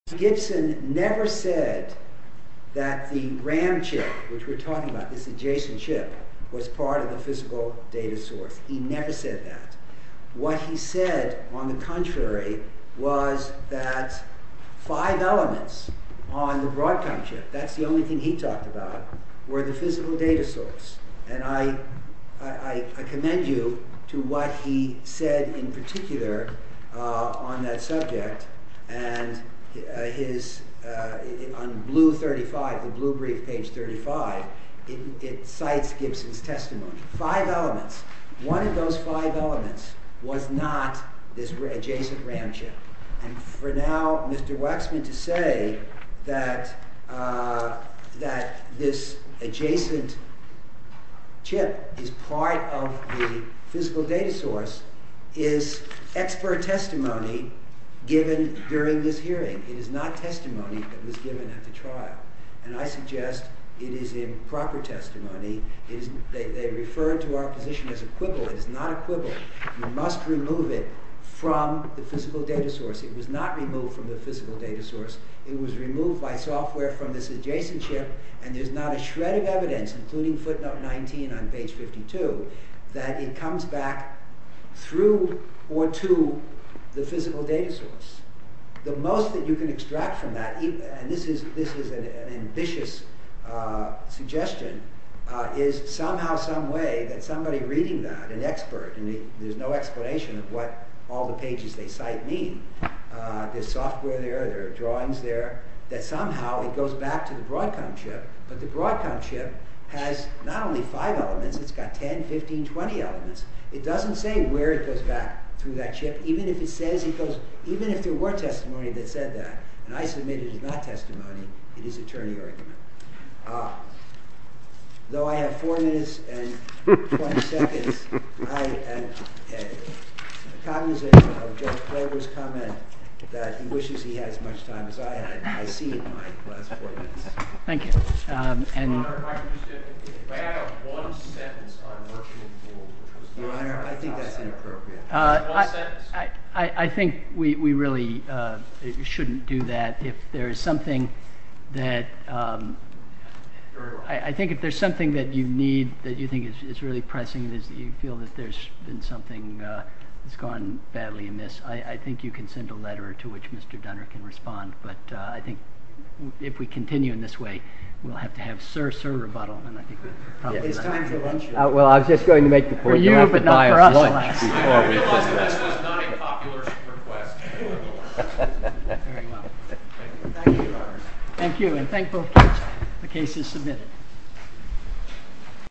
Gibson never said that the RAM chip, which we're talking about, this adjacent chip, was part of the physical data source. He never said that. What he said, on the contrary, was that five elements on the Broadcom chip, that's the only thing he talked about, were the physical data source. And I commend you to what he said in particular on that subject, and his, on blue 35, the blue brief, page 35, it cites Gibson's testimony. Five elements. One of those five elements was not this adjacent RAM chip. And for now, Mr. Waxman to say that that this adjacent chip is part of the physical data source is expert testimony given during this hearing. It is not testimony that was given at the trial. And I suggest it is improper testimony. They refer to our position as equivalent. It is not equivalent. You must remove it from the physical data source. It was not removed from the physical data source. It was removed by software from this adjacent chip, and there's not a shred of evidence, including footnote 19 on page 52, that it comes back through or to the physical data source. The most that you can extract from that, and this is an ambitious suggestion, is somehow some way that somebody reading that, an expert, and there's no explanation of what all the pages they cite mean, there's software there, there are drawings there, that somehow it goes back to the Broadcom chip, but the Broadcom chip has not only five elements, it's got 10, 15, 20 elements. It doesn't say where it goes back through that chip, even if it says it goes, even if there were testimony that said that, and I submit it is not testimony, it is attorney argument. Though I have four minutes and 20 seconds, I am cognizant of Judge Klobuchar's comment that he wishes he had as much time as I had, and I see in my last four minutes. Thank you. I think we really shouldn't do that. I think if there's something that you need, that you think is really pressing, that you feel that there's been something that's gone badly amiss, I think you can send a letter to which Mr. Dunner can respond, but I think if we continue in this way, we'll have to have sir-sir rebuttal, and I think we'll probably not get it. Well, I was just going to make the point. For you, but not for us, alas. Thank you, and thank both cases submitted.